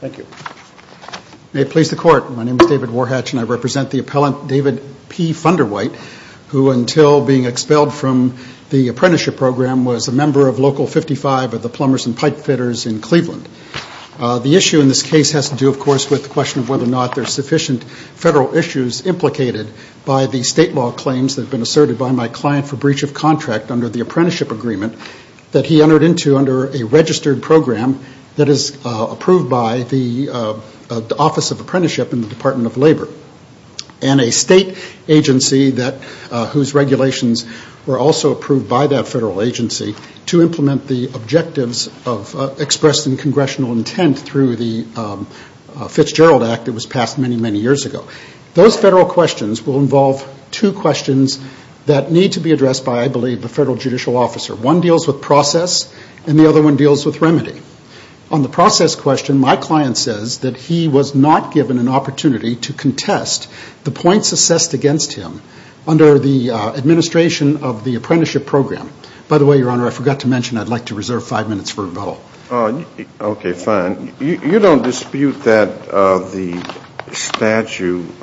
Thank you. May it please the court, my name is David Warhatch and I represent the appellant David P. Funderwhite, who until being expelled from the apprenticeship program was a member of Local 55 of the plumbers and pipe fitters in Cleveland. The issue in this case has to do of course with the question of whether or not there are sufficient federal issues implicated by the state law claims that have been asserted by my client for breach of contract under the apprenticeship agreement that he entered into under a registered program that is approved by the Office of Apprenticeship in the Department of Labor. And a state agency that whose regulations were also approved by that federal agency to implement the objectives of expressed in congressional intent through the Fitzgerald Act that was passed many, many years ago. Those federal questions will involve two questions that need to be addressed by I believe the federal judicial officer. One deals with process and the other one deals with remedy. On the process question, my client says that he was not given an opportunity to contest the points assessed against him under the administration of the apprenticeship program. By the way, Your Honor, I forgot to mention I'd like to reserve five minutes for rebuttal. Okay, fine. You don't dispute that the statute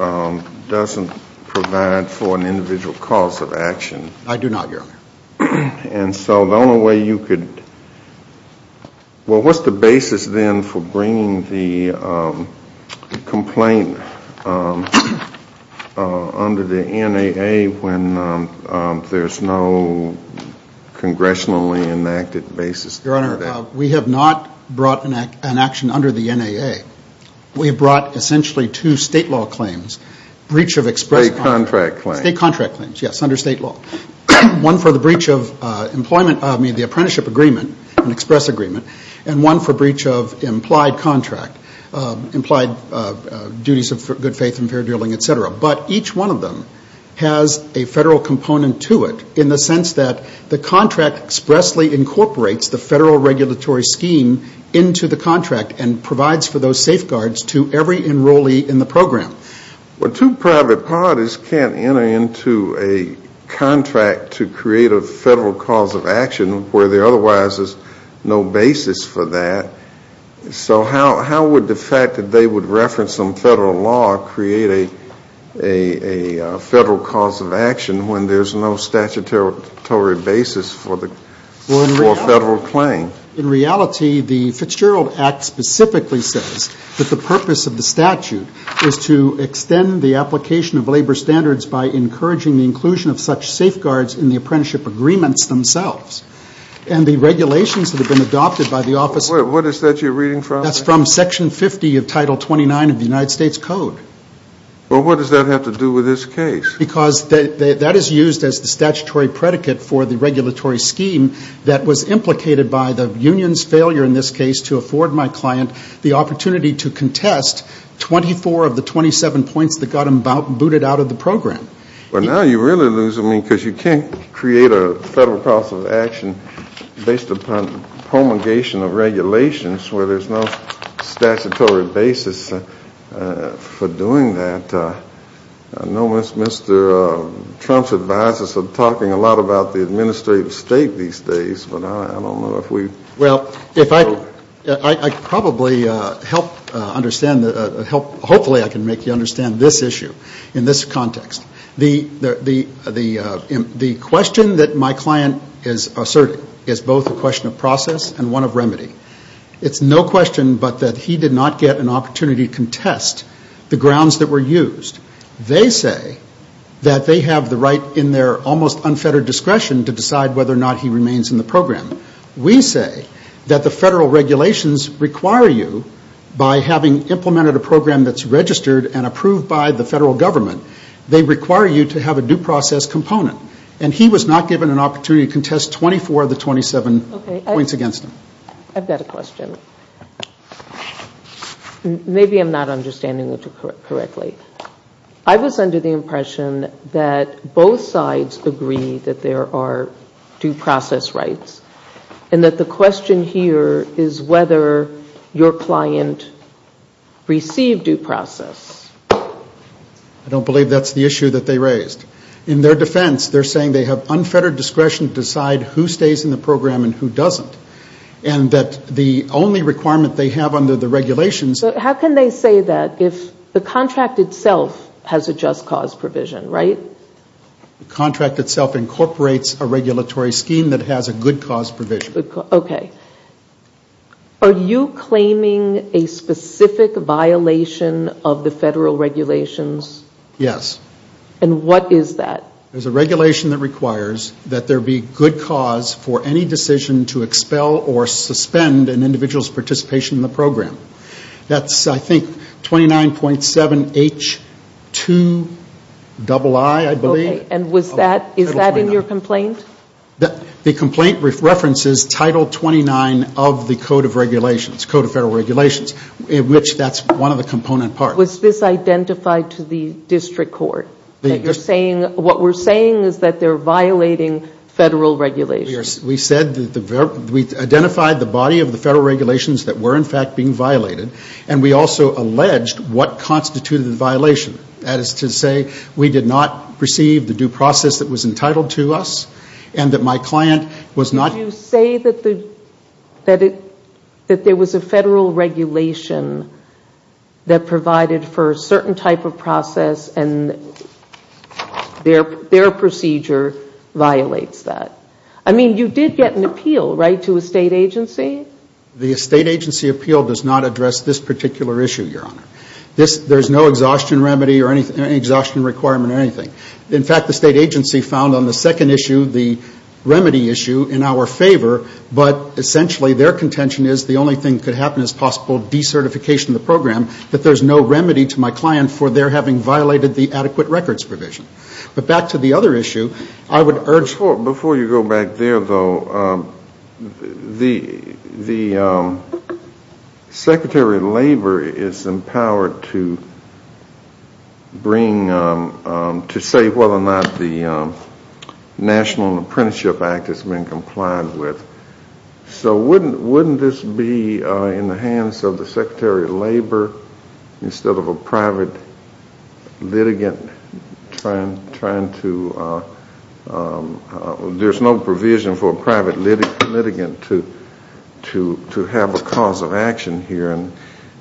doesn't provide for an individual cause of action? I do not, Your Honor. And so the only way you could, well, what's the basis then for bringing the complaint under the NAA when there's no congressionally enacted basis? Your Honor, we have not brought an action under the NAA. We brought essentially two state law claims, breach of express State contract claims. State contract claims, yes, under state law. One for the breach of employment, I mean the apprenticeship agreement, an express agreement, and one for breach of implied contract, implied duties of good faith and fair dealing, et cetera. But each one of them has a federal component to it in the sense that the contract expressly incorporates the federal regulatory scheme into the contract and provides for those safeguards to every enrollee in the program. Well, two private parties can't enter into a contract to create a federal cause of action where there otherwise is no basis for that. So how would the fact that they would reference some federal law create a federal cause of action when there's no statutory basis for the federal claim? In reality, the Fitzgerald Act specifically says that the purpose of the statute is to extend the application of labor standards by encouraging the inclusion of such safeguards in the apprenticeship agreements themselves. And the regulations that have been adopted by the office of What is that you're reading from? That's from Section 50 of Title 29 of the United States Code. Well, what does that have to do with this case? Because that is used as the statutory predicate for the regulatory scheme that was implicated by the union's failure in this case to afford my client the opportunity to contest 24 of the 27 points that got him booted out of the program. Well, now you really lose, I mean, because you can't create a federal cause of action based upon promulgation of regulations where there's no statutory basis for doing that. I know Mr. Trump's advisors are talking a lot about the administrative state these days, but I don't know if we Well, I probably help understand, hopefully I can make you understand this issue in this context. The question that my client is asserting is both a question of process and one of remedy. It's no question but that he did not get an opportunity to contest the grounds that were used. They say that they have the right in their almost unfettered discretion to decide whether or not he remains in the program. We say that the federal regulations require you, by having implemented a program that's registered and approved by the federal government, they require you to have a due process component. And he was not given an opportunity to contest 24 of the 27 points against him. I've got a question. Maybe I'm not understanding it correctly. I was under the impression that both sides agree that there are due process rights and that the question here is whether your client received due process. I don't believe that's the issue that they raised. In their defense, they're saying they have unfettered discretion to decide who stays in the program and who doesn't. And that the only requirement they have under the regulations How can they say that if the contract itself has a just cause provision, right? The contract itself incorporates a regulatory scheme that has a good cause provision. Are you claiming a specific violation of the federal regulations? Yes. And what is that? There's a regulation that requires that there be good cause for any decision to expel or That's I think 29.7H2II, I believe. And is that in your complaint? The complaint references Title 29 of the Code of Federal Regulations, in which that's one of the component parts. Was this identified to the district court? What we're saying is that they're violating federal regulations. We said that we identified the body of the federal regulations that were in fact being violated and we also alleged what constituted the violation. That is to say we did not receive the due process that was entitled to us and that my client was not Did you say that there was a federal regulation that provided for a certain type of process and their procedure violates that? I mean, you did get an appeal, right, to a state agency? The state agency appeal does not address this particular issue, Your Honor. There's no exhaustion remedy or any exhaustion requirement or anything. In fact, the state agency found on the second issue the remedy issue in our favor, but essentially their contention is the only thing that could happen is possible decertification of the program, that there's no remedy to my client for their having violated the adequate records provision. But back to the other issue, I would urge Before you go back there, though, the Secretary of Labor is empowered to bring, to say whether or not the National Apprenticeship Act has been complied with. So wouldn't this be in the hands of the Secretary of Labor instead of a private litigant trying to, there's no provision for a private litigant to have a cause of action here? And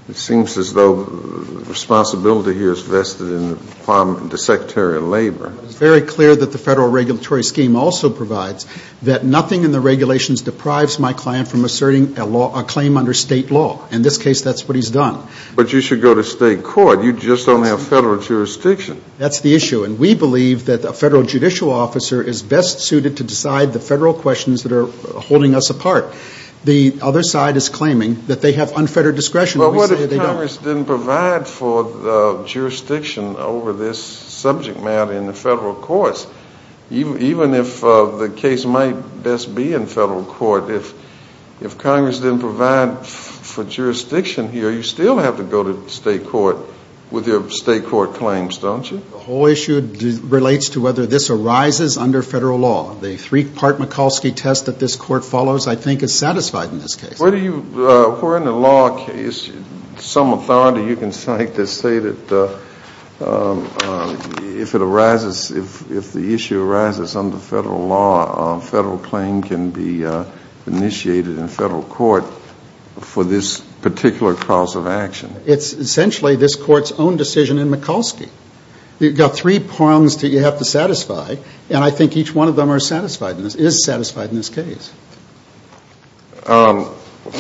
it seems as though responsibility here is vested in the Secretary of Labor. It's very clear that the federal regulatory scheme also provides that nothing in the regulations deprives my client from asserting a claim under state law. In this case, that's what he's done. But you should go to state court. You just don't have federal jurisdiction. That's the issue. And we believe that a federal judicial officer is best suited to decide the federal questions that are holding us apart. The other side is claiming that they have unfettered discretion. Well, what if Congress didn't provide for jurisdiction over this subject matter in the state court? If Congress didn't provide for jurisdiction here, you still have to go to state court with your state court claims, don't you? The whole issue relates to whether this arises under federal law. The three-part Mikulski test that this court follows, I think, is satisfied in this case. Where do you, where in the law is some authority you can cite to say that if it arises, if it's not initiated in federal court for this particular cause of action? It's essentially this court's own decision in Mikulski. You've got three prongs that you have to satisfy, and I think each one of them are satisfied in this, is satisfied in this case.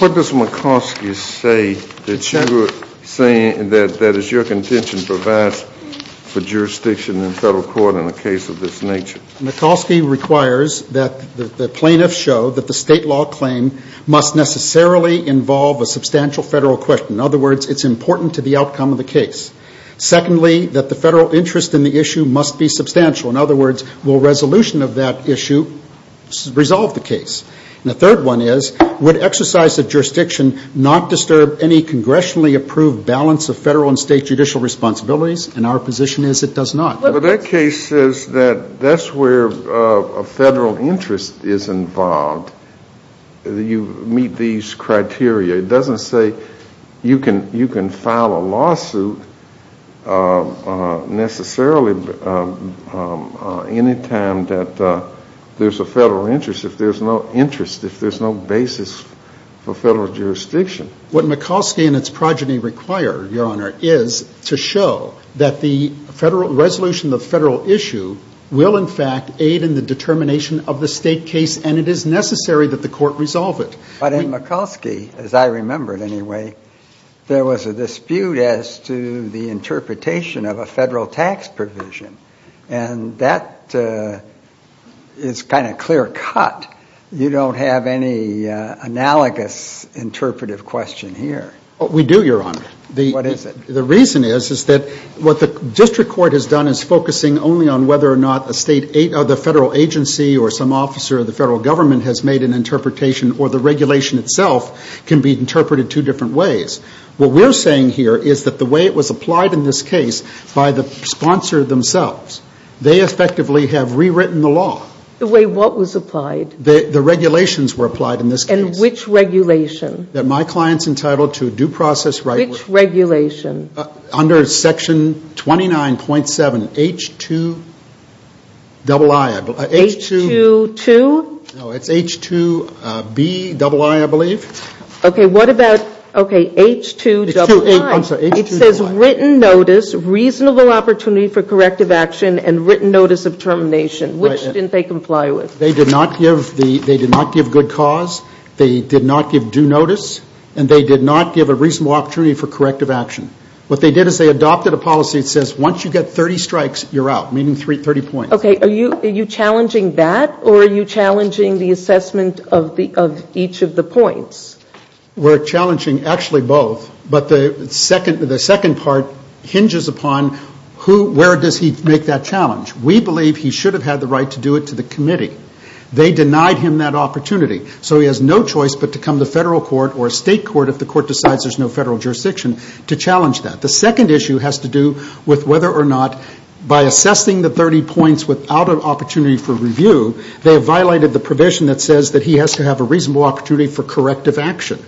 What does Mikulski say that you're saying that is your contention provides for jurisdiction in federal court in a case of this nature? Mikulski requires that the plaintiffs show that the state law claim must necessarily involve a substantial federal question. In other words, it's important to the outcome of the case. Secondly, that the federal interest in the issue must be substantial. In other words, will resolution of that issue resolve the case? And the third one is, would exercise of jurisdiction not disturb any congressionally approved balance of federal and state judicial responsibilities? And our position is it does not. Well, that case says that that's where a federal interest is involved. You meet these criteria. It doesn't say you can file a lawsuit necessarily any time that there's a federal interest if there's no interest, if there's no basis for federal jurisdiction. What Mikulski and its progeny require, Your Honor, is to show that the federal resolution of the federal issue will, in fact, aid in the determination of the state case, and it is necessary that the court resolve it. But in Mikulski, as I remember it anyway, there was a dispute as to the interpretation of a federal tax provision, and that is kind of clear cut. You don't have any analogous interpretive question here. We do, Your Honor. What is it? The reason is, is that what the district court has done is focusing only on whether or not a state or the federal agency or some officer of the federal government has made an interpretation or the regulation itself can be interpreted two different ways. What we're saying here is that the way it was applied in this case by the sponsor themselves, they effectively have rewritten the law. The way what was applied? The regulations were applied in this case. Which regulation? That my client's entitled to due process right. Which regulation? Under section 29.7, H2 double I, I believe. H22? No, it's H2B double I, I believe. Okay, what about, okay, H2 double I. I'm sorry, H2 double I. It says written notice, reasonable opportunity for corrective action, and written notice of termination. Which didn't they comply with? They did not give the, they did not give good cause, they did not give due notice, and they did not give a reasonable opportunity for corrective action. What they did is they adopted a policy that says once you get 30 strikes, you're out, meaning 30 points. Okay, are you, are you challenging that or are you challenging the assessment of the, of each of the points? We're challenging actually both, but the second, the second part hinges upon who, where does he make that challenge? We believe he should have had the right to do it to the committee. They denied him that opportunity. So he has no choice but to come to federal court or state court if the court decides there's no federal jurisdiction to challenge that. The second issue has to do with whether or not by assessing the 30 points without an opportunity for review, they have violated the provision that says that he has to have a reasonable opportunity for corrective action.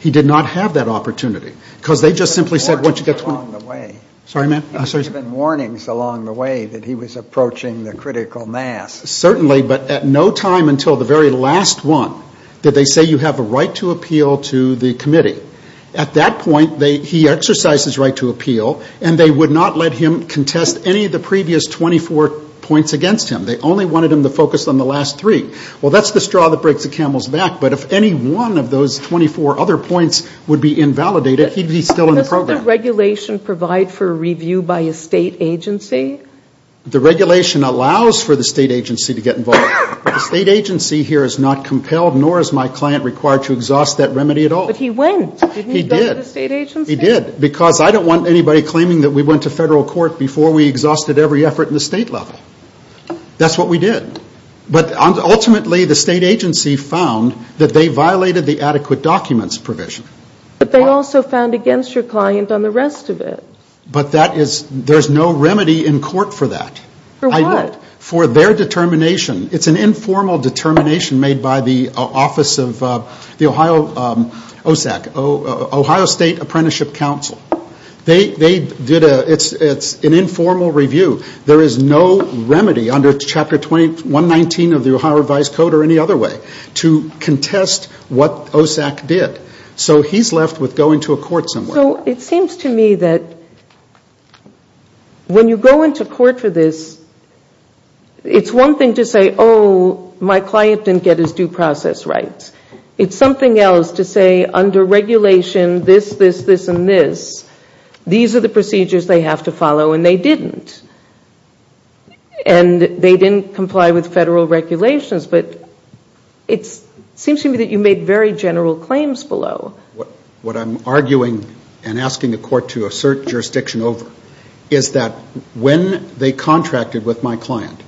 He did not have that opportunity. Because they just simply said once you get 20, sorry ma'am? There have been warnings along the way that he was approaching the critical mass. Certainly, but at no time until the very last one did they say you have a right to appeal to the committee. At that point, they, he exercised his right to appeal and they would not let him contest any of the previous 24 points against him. They only wanted him to focus on the last three. Well that's the straw that breaks the camel's back, but if any one of those 24 other points would be invalidated, he'd be still in the program. Does the regulation provide for a review by a state agency? The regulation allows for the state agency to get involved. The state agency here is not compelled nor is my client required to exhaust that remedy at all. But he went. He did. He went to the state agency? He did. Because I don't want anybody claiming that we went to federal court before we exhausted every effort in the state level. That's what we did. But ultimately, the state agency found that they violated the adequate documents provision. But they also found against your client on the rest of it. But that is, there's no remedy in court for that. For what? For their determination. It's an informal determination made by the office of the Ohio, OSAC, Ohio State Apprenticeship Council. They, they did a, it's an informal review. There is no remedy under Chapter 2119 of the Ohio Revised Code or any other way to contest what OSAC did. So he's left with going to a court somewhere. So it seems to me that when you go into court for this, it's one thing to say, oh, my client didn't get his due process right. It's something else to say, under regulation, this, this, this, and this, these are the procedures they have to follow. And they didn't. And they didn't comply with federal regulations. But it seems to me that you made very general claims below. What I'm arguing and asking the court to assert jurisdiction over is that when they contracted with my client,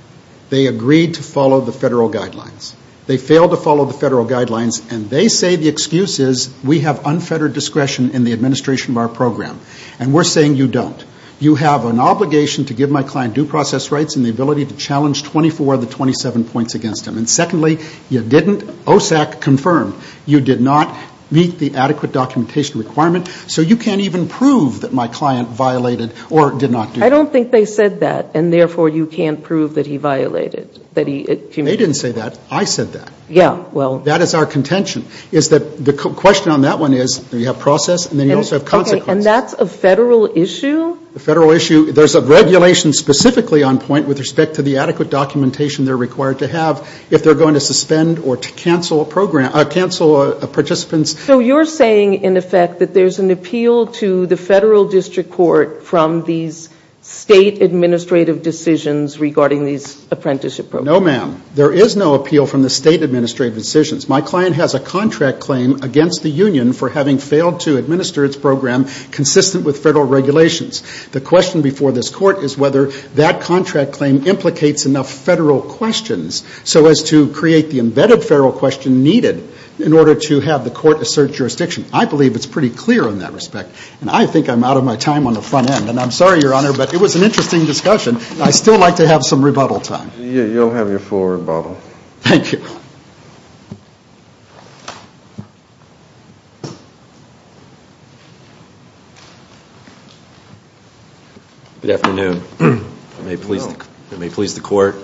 they agreed to follow the federal guidelines. They failed to follow the federal guidelines. And they say the excuse is, we have unfettered discretion in the administration of our program. And we're saying you don't. You have an obligation to give my client due process rights and the ability to challenge 24 of the 27 points against him. And secondly, you didn't, OSAC confirmed, you did not meet the adequate documentation requirement. So you can't even prove that my client violated or did not do that. I don't think they said that. And therefore, you can't prove that he violated, that he committed. They didn't say that. I said that. Yeah. Well. That is our contention, is that the question on that one is, you have process, and then you also have consequence. Okay. And that's a federal issue? A federal issue. There's a regulation specifically on point with respect to the adequate documentation they're required to have if they're going to suspend or to cancel a program, cancel a participant's. So you're saying, in effect, that there's an appeal to the federal district court from these state administrative decisions regarding these apprenticeship programs? No, ma'am. There is no appeal from the state administrative decisions. My client has a contract claim against the union for having failed to administer its program consistent with federal regulations. The question before this court is whether that contract claim implicates enough federal questions so as to create the embedded federal question needed in order to have the court assert jurisdiction. I believe it's pretty clear in that respect. And I think I'm out of my time on the front end. And I'm sorry, Your Honor, but it was an interesting discussion. I still like to have some rebuttal time. You'll have your full rebuttal. Thank you. Good afternoon. If it may please the court,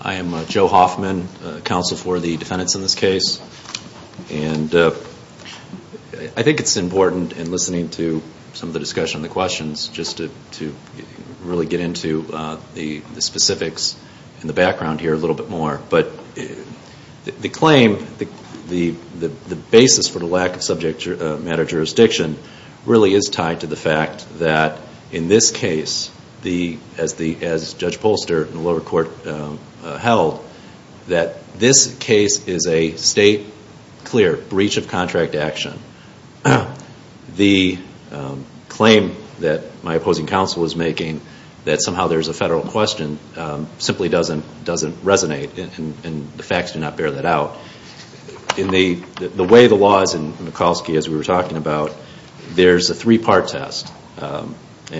I am Joe Hoffman, counsel for the defendants in this case. And I think it's important in listening to some of the discussion and the questions just to really get into the specifics in the background here a little bit more. But the claim, the basis for the lack of subject matter jurisdiction really is tied to the fact that in this case, as Judge Polster in the lower court held, that this case is a state clear breach of contract action. The claim that my opposing counsel is making that somehow there's a federal question simply doesn't resonate and the facts do not bear that out. The way the law is in Mikulski, as we were talking about, there's a three-part test.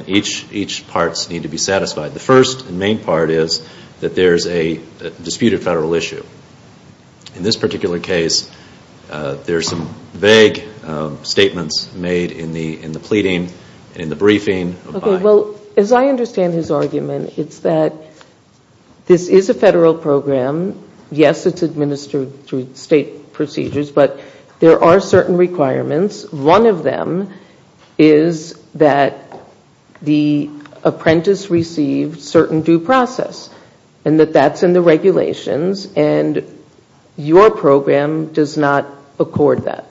Each part needs to be satisfied. The first and main part is that there's a disputed federal issue. In this particular case, there's some vague statements made in the pleading and in the briefing. Okay. Well, as I understand his argument, it's that this is a federal program. Yes, it's administered through state procedures, but there are certain requirements. One of them is that the apprentice receives certain due process and that that's in the statute, and your program does not accord that.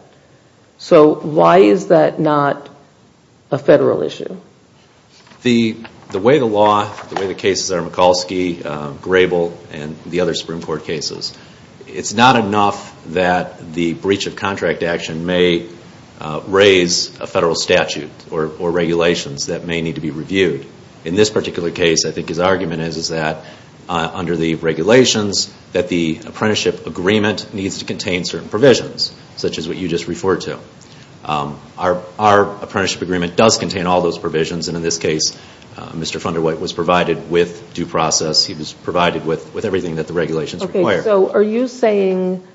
So why is that not a federal issue? The way the law, the way the cases are in Mikulski, Grable, and the other Supreme Court cases, it's not enough that the breach of contract action may raise a federal statute or regulations that may need to be reviewed. In this particular case, I think his argument is that under the regulations, that the apprenticeship agreement needs to contain certain provisions, such as what you just referred to. Our apprenticeship agreement does contain all those provisions, and in this case, Mr. Funderwhite was provided with due process, he was provided with everything that the regulations require. Okay. So are you saying,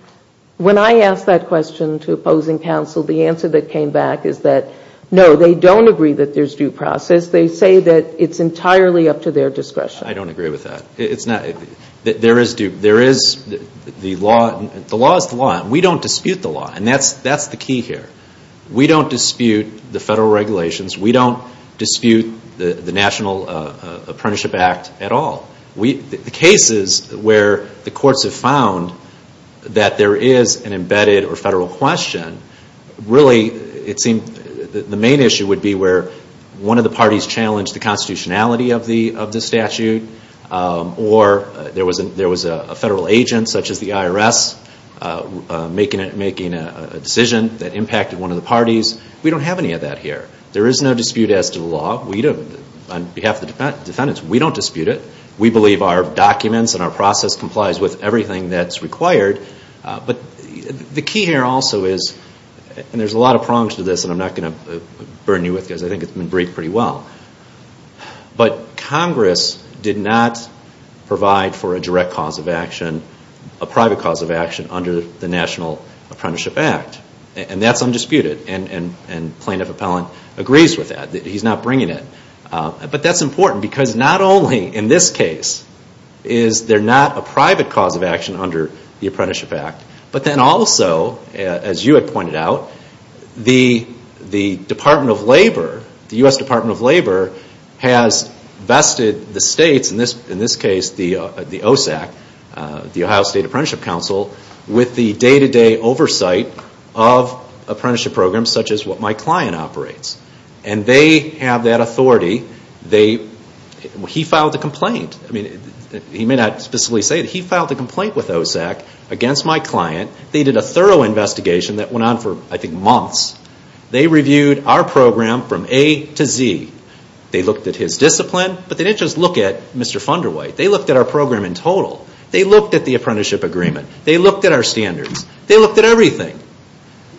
when I asked that question to opposing counsel, the answer that came back is that, no, they don't agree that there's due process. They say that it's entirely up to their discretion. I don't agree with that. It's not, there is, the law is the law, and we don't dispute the law, and that's the key here. We don't dispute the federal regulations. We don't dispute the National Apprenticeship Act at all. The cases where the courts have found that there is an embedded or federal question, really, it seemed, the main issue would be where one of the parties challenged the constitutionality of the statute, or there was a federal agent, such as the IRS, making a decision that impacted one of the parties. We don't have any of that here. There is no dispute as to the law. On behalf of the defendants, we don't dispute it. We believe our documents and our process complies with everything that's required, but the key here also is, and there's a lot of prongs to this, and I'm not going to burn you with this, I think it's been breaked pretty well, but Congress did not provide for a direct cause of action, a private cause of action, under the National Apprenticeship Act, and that's undisputed, and Plaintiff Appellant agrees with that. He's not bringing it, but that's important because not only, in this case, is there not a private cause of action under the Apprenticeship Act, but then also, as you had pointed out, the Department of Labor, the U.S. Department of Labor, has vested the states, in this case, the OSAC, the Ohio State Apprenticeship Council, with the day-to-day oversight of apprenticeship programs, such as what my client operates, and they have that authority. He filed a complaint, he may not specifically say it, he filed a complaint with OSAC against my client. They did a thorough investigation that went on for, I think, months. They reviewed our program from A to Z. They looked at his discipline, but they didn't just look at Mr. Funderwhite. They looked at our program in total. They looked at the apprenticeship agreement. They looked at our standards. They looked at everything.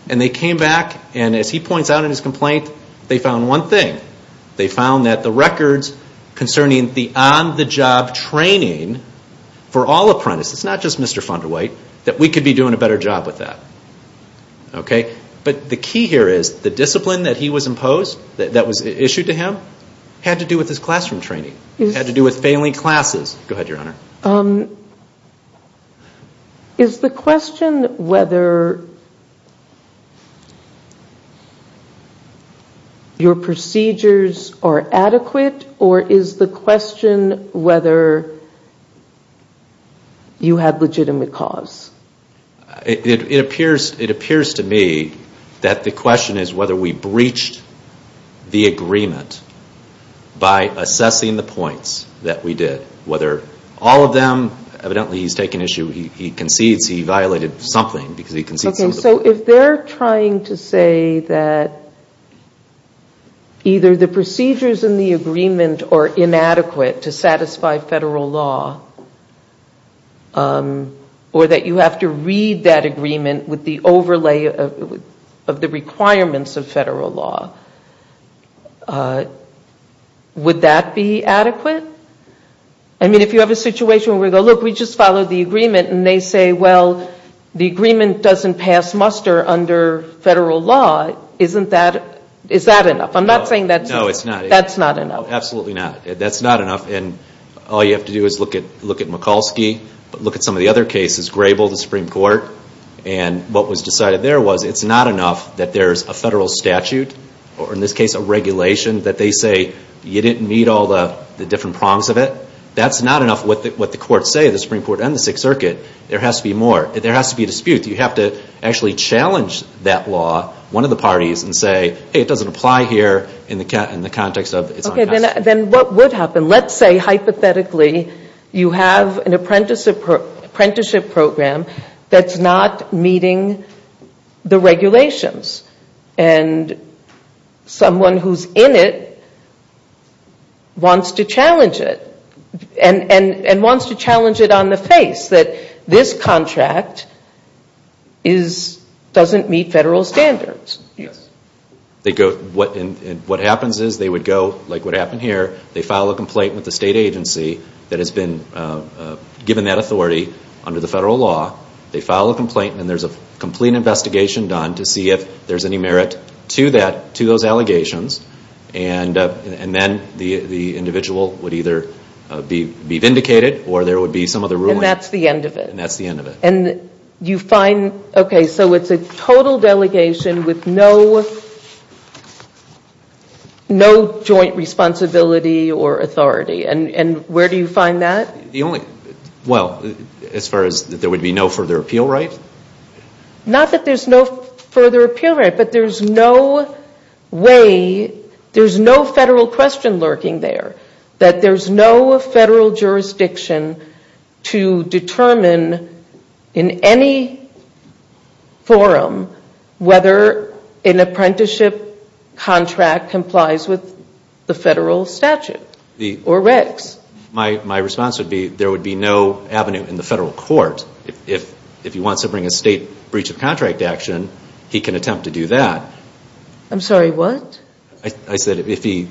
And they came back, and as he points out in his complaint, they found one thing. They found that the records concerning the on-the-job training for all apprentices, not just Mr. Funderwhite, that we could be doing a better job with that. But the key here is, the discipline that he was imposed, that was issued to him, had to do with his classroom training. It had to do with failing classes. Go ahead, Your Honor. Is the question whether your procedures are adequate, or is the question whether you had legitimate cause? It appears to me that the question is whether we breached the agreement by assessing the all of them. Evidently, he's taken issue, he concedes he violated something, because he concedes Okay, so if they're trying to say that either the procedures in the agreement are inadequate to satisfy federal law, or that you have to read that agreement with the overlay of the requirements of federal law, would that be adequate? I mean, if you have a situation where we go, look, we just followed the agreement, and they say, well, the agreement doesn't pass muster under federal law, is that enough? I'm not saying that's not enough. Absolutely not. That's not enough. All you have to do is look at Mikulski, look at some of the other cases, Grable, the Supreme Court, and what was decided there was, it's not enough that there's a federal statute, or in this case, a regulation, that they say, you didn't meet all the different prongs of it. That's not enough what the courts say, the Supreme Court and the Sixth Circuit. There has to be more. There has to be a dispute. You have to actually challenge that law, one of the parties, and say, hey, it doesn't apply here in the context of it's on us. Okay, then what would happen? Let's say, hypothetically, you have an apprenticeship program that's not meeting the regulations, and someone who's in it wants to challenge it, and wants to challenge it on the face that this contract doesn't meet federal standards. What happens is they would go, like what happened here, they file a complaint with the state agency that has been given that authority under the federal law. They file a complaint, and there's a complete investigation done to see if there's any merit to those allegations, and then the individual would either be vindicated, or there would be some other ruling. That's the end of it. That's the end of it. You find, okay, so it's a total delegation with no joint responsibility or authority. Where do you find that? The only, well, as far as there would be no further appeal right? Not that there's no further appeal right, but there's no way, there's no federal question lurking there, that there's no federal jurisdiction to determine in any forum whether an apprenticeship contract complies with the federal statute, or regs. My response would be, there would be no avenue in the federal court. If he wants to bring a state breach of contract action, he can attempt to do that. I'm sorry, what? I said if he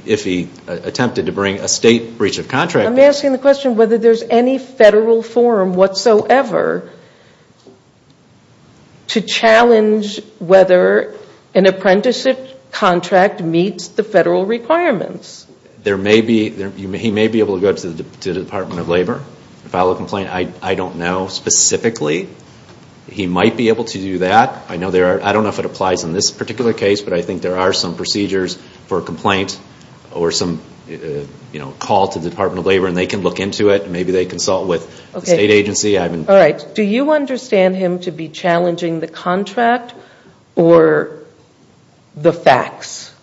attempted to bring a state breach of contract. I'm asking the question whether there's any federal forum whatsoever to challenge whether an apprenticeship contract meets the federal requirements. There may be, he may be able to go up to the Department of Labor and file a complaint. I don't know specifically. He might be able to do that. I don't know if it applies in this particular case, but I think there are some procedures for a complaint, or some call to the Department of Labor, and they can look into it. Maybe they consult with the state agency. Do you understand him to be challenging the contract, or the facts?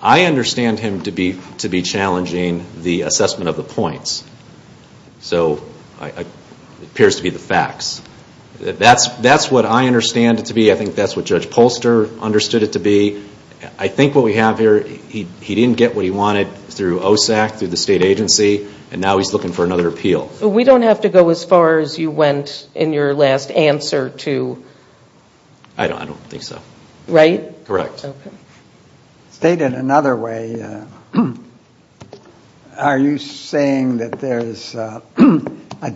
I understand him to be challenging the assessment of the points, so it appears to be the facts. That's what I understand it to be. I think that's what Judge Polster understood it to be. I think what we have here, he didn't get what he wanted through OSAC, through the state agency, and now he's looking for another appeal. We don't have to go as far as you went in your last answer to... I don't think so. Right? Correct. Okay. Stated another way, are you saying that there's a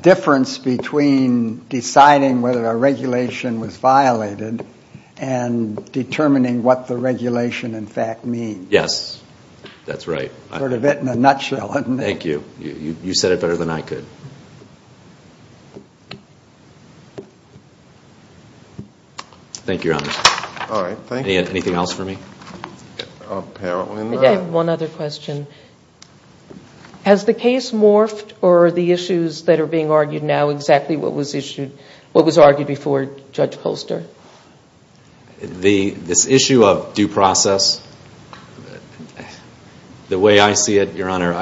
difference between deciding whether a regulation was violated, and determining what the regulation in fact means? Yes. That's right. Sort of in a nutshell. You said it better than I could. Thank you, Your Honor. All right. Thank you. Anything else for me? Apparently not. I have one other question. Has the case morphed, or are the issues that are being argued now exactly what was argued before Judge Polster? This issue of due process, the way I see it, Your Honor,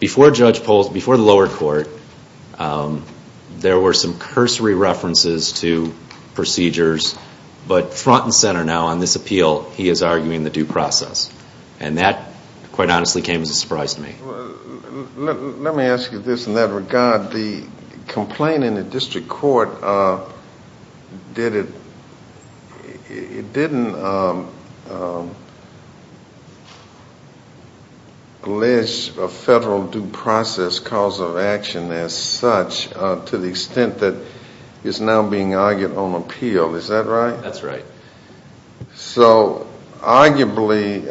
before the lower court, there were some cursory references to procedures, but front and center now on this appeal, he is arguing the due process. That quite honestly came as a surprise to me. Let me ask you this in that regard. The complaint in the district court, it didn't allege a federal due process cause of action as such to the extent that it's now being argued on appeal. Is that right? That's right. Arguably,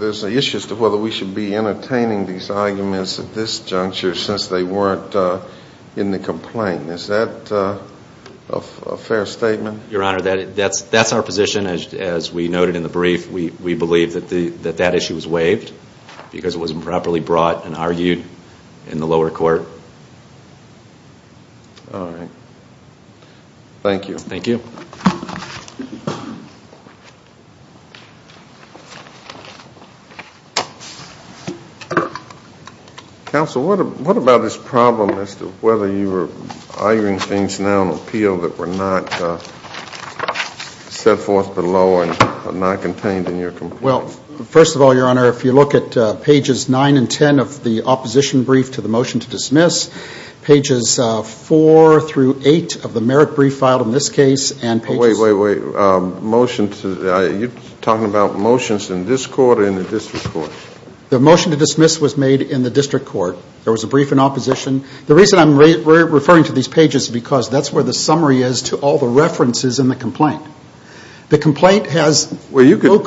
there's an issue as to whether we should be entertaining these arguments at this juncture since they weren't in the complaint. Is that a fair statement? Your Honor, that's our position. As we noted in the brief, we believe that that issue was waived because it was improperly brought and argued in the lower court. Thank you. Thank you. Counsel, what about this problem as to whether you were arguing things now on appeal that were not set forth below and not contained in your complaint? Well, first of all, Your Honor, if you look at pages 9 and 10 of the opposition brief to the motion to dismiss, pages 4 through 8 of the merit brief filed in this case and pages... Wait, wait, wait. Motion to... Are you talking about motions in this court or in the district court? The motion to dismiss was made in the district court. There was a brief in opposition. The reason I'm referring to these pages is because that's where the summary is to all the references in the complaint. The complaint has... Well, you can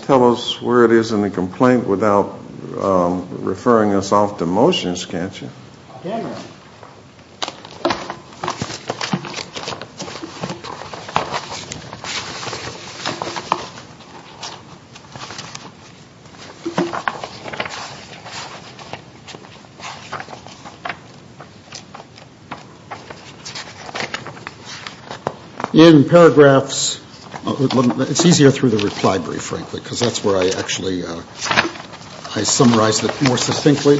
tell us where it is in the complaint without referring us off to motions, can't you? In paragraphs, it's easier through the reply brief, frankly, because that's where I actually I summarized it more succinctly.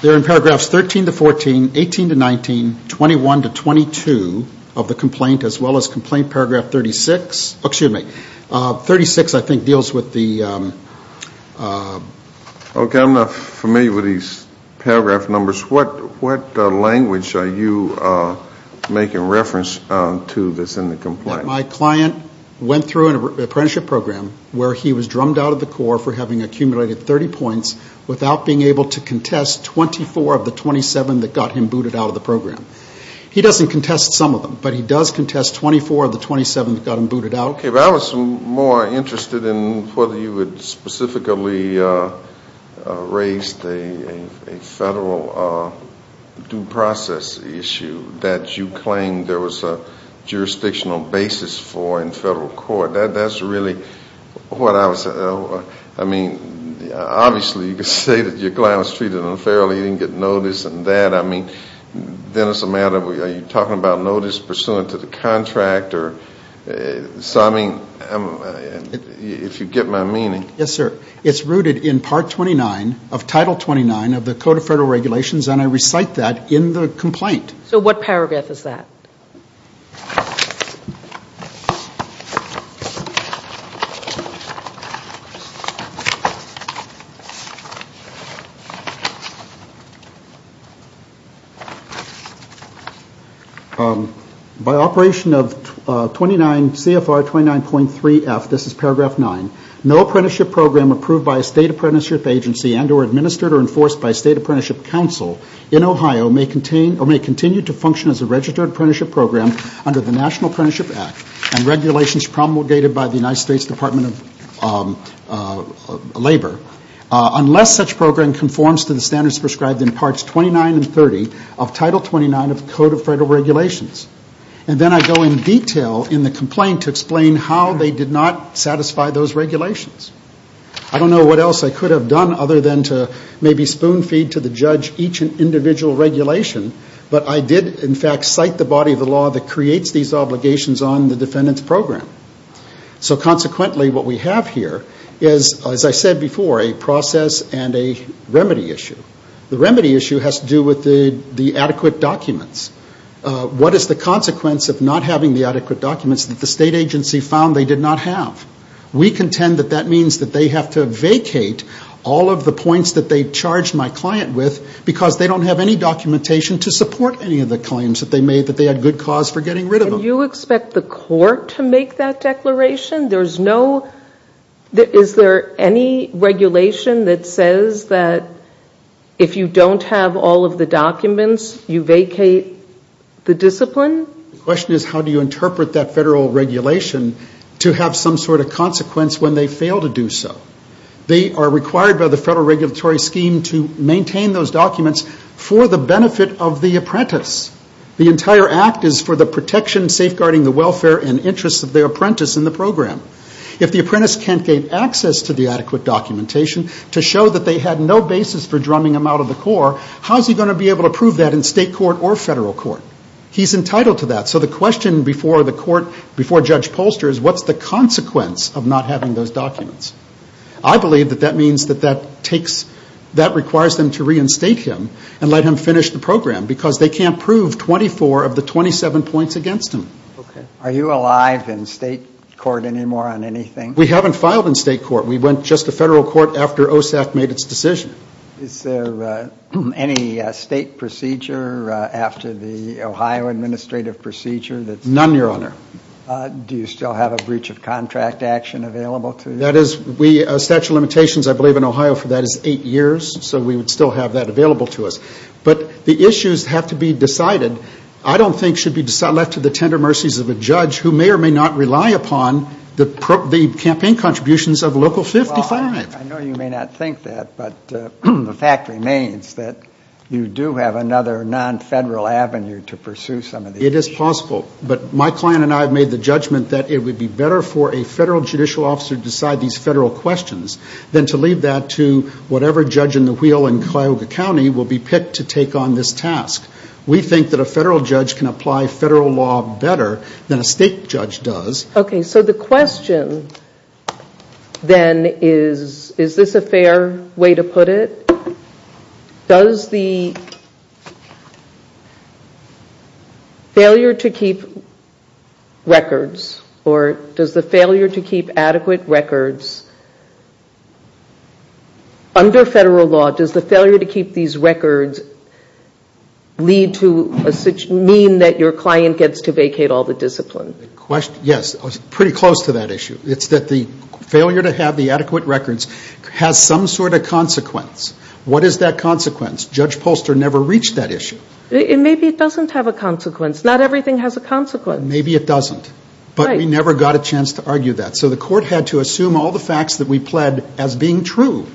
They're in paragraphs 13 to 14, 18 to 19, 21 to 22 of the complaint, as well as complaint paragraph 36. Oh, excuse me. 36, I think, deals with the... Okay. I'm not familiar with these paragraph numbers. What language are you making reference to that's in the complaint? My client went through an apprenticeship program where he was drummed out of the Corps for having accumulated 30 points without being able to contest 24 of the 27 that got him booted out of the program. He doesn't contest some of them, but he does contest 24 of the 27 that got him booted out. Okay. But I was more interested in whether you had specifically raised a federal due process issue that you claimed there was a jurisdictional basis for in federal court. That's really what I was... I mean, obviously, you could say that your client was treated unfairly, he didn't get notice and that. I mean, then it's a matter of, are you talking about notice pursuant to the contract or something? If you get my meaning. Yes, sir. It's rooted in Part 29 of Title 29 of the Code of Federal Regulations, and I recite that in the complaint. So what paragraph is that? By operation of CFR 29.3F, this is paragraph nine, no apprenticeship program approved by a State Apprenticeship Agency and or administered or enforced by a State Apprenticeship Council in Ohio may continue to function as a registered apprenticeship program under the National Apprenticeship Act and regulations promulgated by the United States Department of Labor unless such program conforms to the standards prescribed in Parts 29 and 30 of Title 29 of the Code of Federal Regulations. And then I go in detail in the complaint to explain how they did not satisfy those regulations. I don't know what else I could have done other than to maybe spoon feed to the judge each individual regulation, but I did in fact cite the body of the law that creates these obligations on the defendant's program. So consequently what we have here is, as I said before, a process and a remedy issue. The remedy issue has to do with the adequate documents. What is the consequence of not having the adequate documents that the State Agency found they did not have? We contend that that means that they have to vacate all of the points that they charged my client with because they don't have any documentation to support any of the claims that they made that they had good cause for getting rid of them. And you expect the court to make that declaration? There's no, is there any regulation that says that if you don't have all of the documents you vacate the discipline? The question is how do you interpret that federal regulation to have some sort of consequence when they fail to do so? They are required by the federal regulatory scheme to maintain those documents for the benefit of the apprentice. The entire act is for the protection, safeguarding the welfare and interests of the apprentice in the program. If the apprentice can't gain access to the adequate documentation to show that they had no basis for drumming them out of the court, how is he going to be able to prove that in state court or federal court? He's entitled to that. So the question before the court, before Judge Polster, is what's the consequence of not having those documents? I believe that that means that that takes, that requires them to reinstate him and let him finish the program because they can't prove 24 of the 27 points against him. Are you alive in state court anymore on anything? We haven't filed in state court. We went just to federal court after OSAC made its decision. Is there any state procedure after the Ohio Administrative Procedure? None, your honor. Do you still have a breach of contract action available to you? That is, we, statute of limitations I believe in Ohio for that is eight years, so we would still have that available to us. But the issues have to be decided, I don't think should be left to the tender mercies of a judge who may or may not rely upon the campaign contributions of Local 55. I know you may not think that, but the fact remains that you do have another non-federal avenue to pursue some of these issues. It is possible, but my client and I have made the judgment that it would be better for a federal judicial officer to decide these federal questions than to leave that to whatever judge in the wheel in Cuyahoga County will be picked to take on this task. We think that a federal judge can apply federal law better than a state judge does. Okay, so the question then is, is this a fair way to put it? Does the failure to keep records, or does the failure to keep adequate records under federal law, does the failure to keep these records lead to, mean that your client gets to vacate all the discipline? Yes, pretty close to that issue. It's that the failure to have the adequate records has some sort of consequence. What is that consequence? Judge Polster never reached that issue. Maybe it doesn't have a consequence. Not everything has a consequence. Maybe it doesn't. Right. But we never got a chance to argue that. So the court had to assume all the facts that we pled as being true.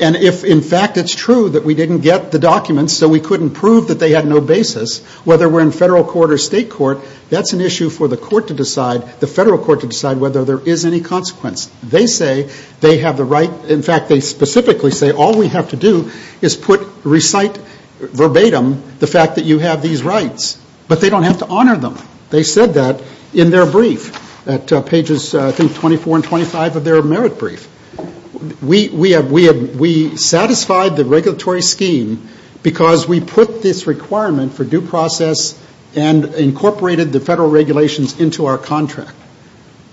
And if, in fact, it's true that we didn't get the documents, so we couldn't prove that they had no basis, whether we're in federal court or state court, that's an issue for the court to decide, the federal court to decide, whether there is any consequence. They say they have the right, in fact, they specifically say, all we have to do is recite verbatim the fact that you have these rights. But they don't have to honor them. They said that in their brief, at pages, I think, 24 and 25 of their merit brief. We satisfied the regulatory scheme because we put this requirement for due process and incorporated the federal regulations into our contract.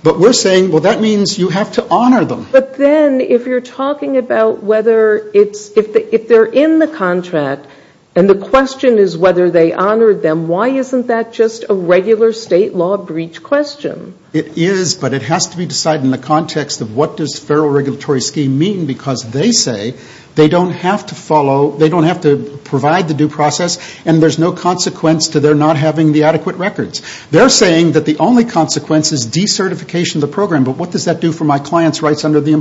But we're saying, well, that means you have to honor them. But then, if you're talking about whether it's, if they're in the contract and the question is whether they honored them, why isn't that just a regular state law breach question? It is, but it has to be decided in the context of what does federal regulatory scheme mean because they say they don't have to follow, they don't have to provide the due process and there's no consequence to their not having the adequate records. They're saying that the only consequence is decertification of the program, but what does that do for my client's rights under the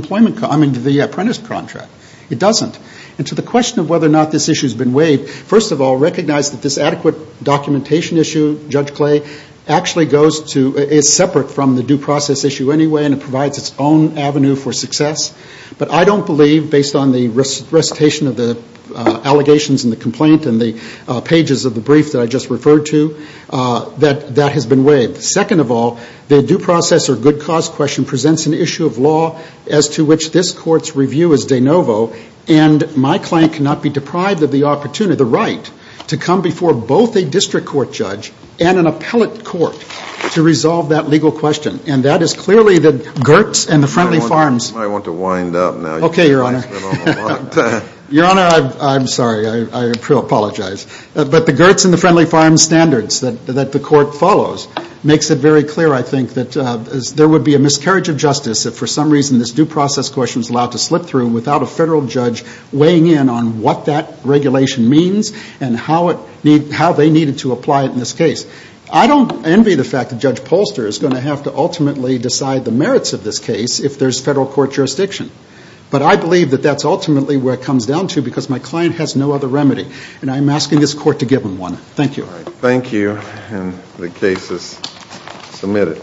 apprentice contract? It doesn't. And to the question of whether or not this issue has been waived, first of all, recognize that this adequate documentation issue, Judge Clay, actually goes to, is separate from the due process issue anyway and it provides its own avenue for success. But I don't believe, based on the recitation of the allegations and the complaint and the that has been waived. Second of all, the due process or good cause question presents an issue of law as to which this court's review is de novo and my client cannot be deprived of the opportunity, the right, to come before both a district court judge and an appellate court to resolve that legal question. And that is clearly the GERTS and the Friendly Farms. I want to wind up now. Okay, Your Honor. Your Honor, I'm sorry. I apologize. But the GERTS and the Friendly Farms standards that the court follows makes it very clear, I think, that there would be a miscarriage of justice if for some reason this due process question is allowed to slip through without a federal judge weighing in on what that regulation means and how they needed to apply it in this case. I don't envy the fact that Judge Polster is going to have to ultimately decide the merits of this case if there's federal court jurisdiction. But I believe that that's ultimately where it comes down to because my client has no other remedy. And I'm asking this court to give him one. Thank you. All right. Thank you. And the case is submitted.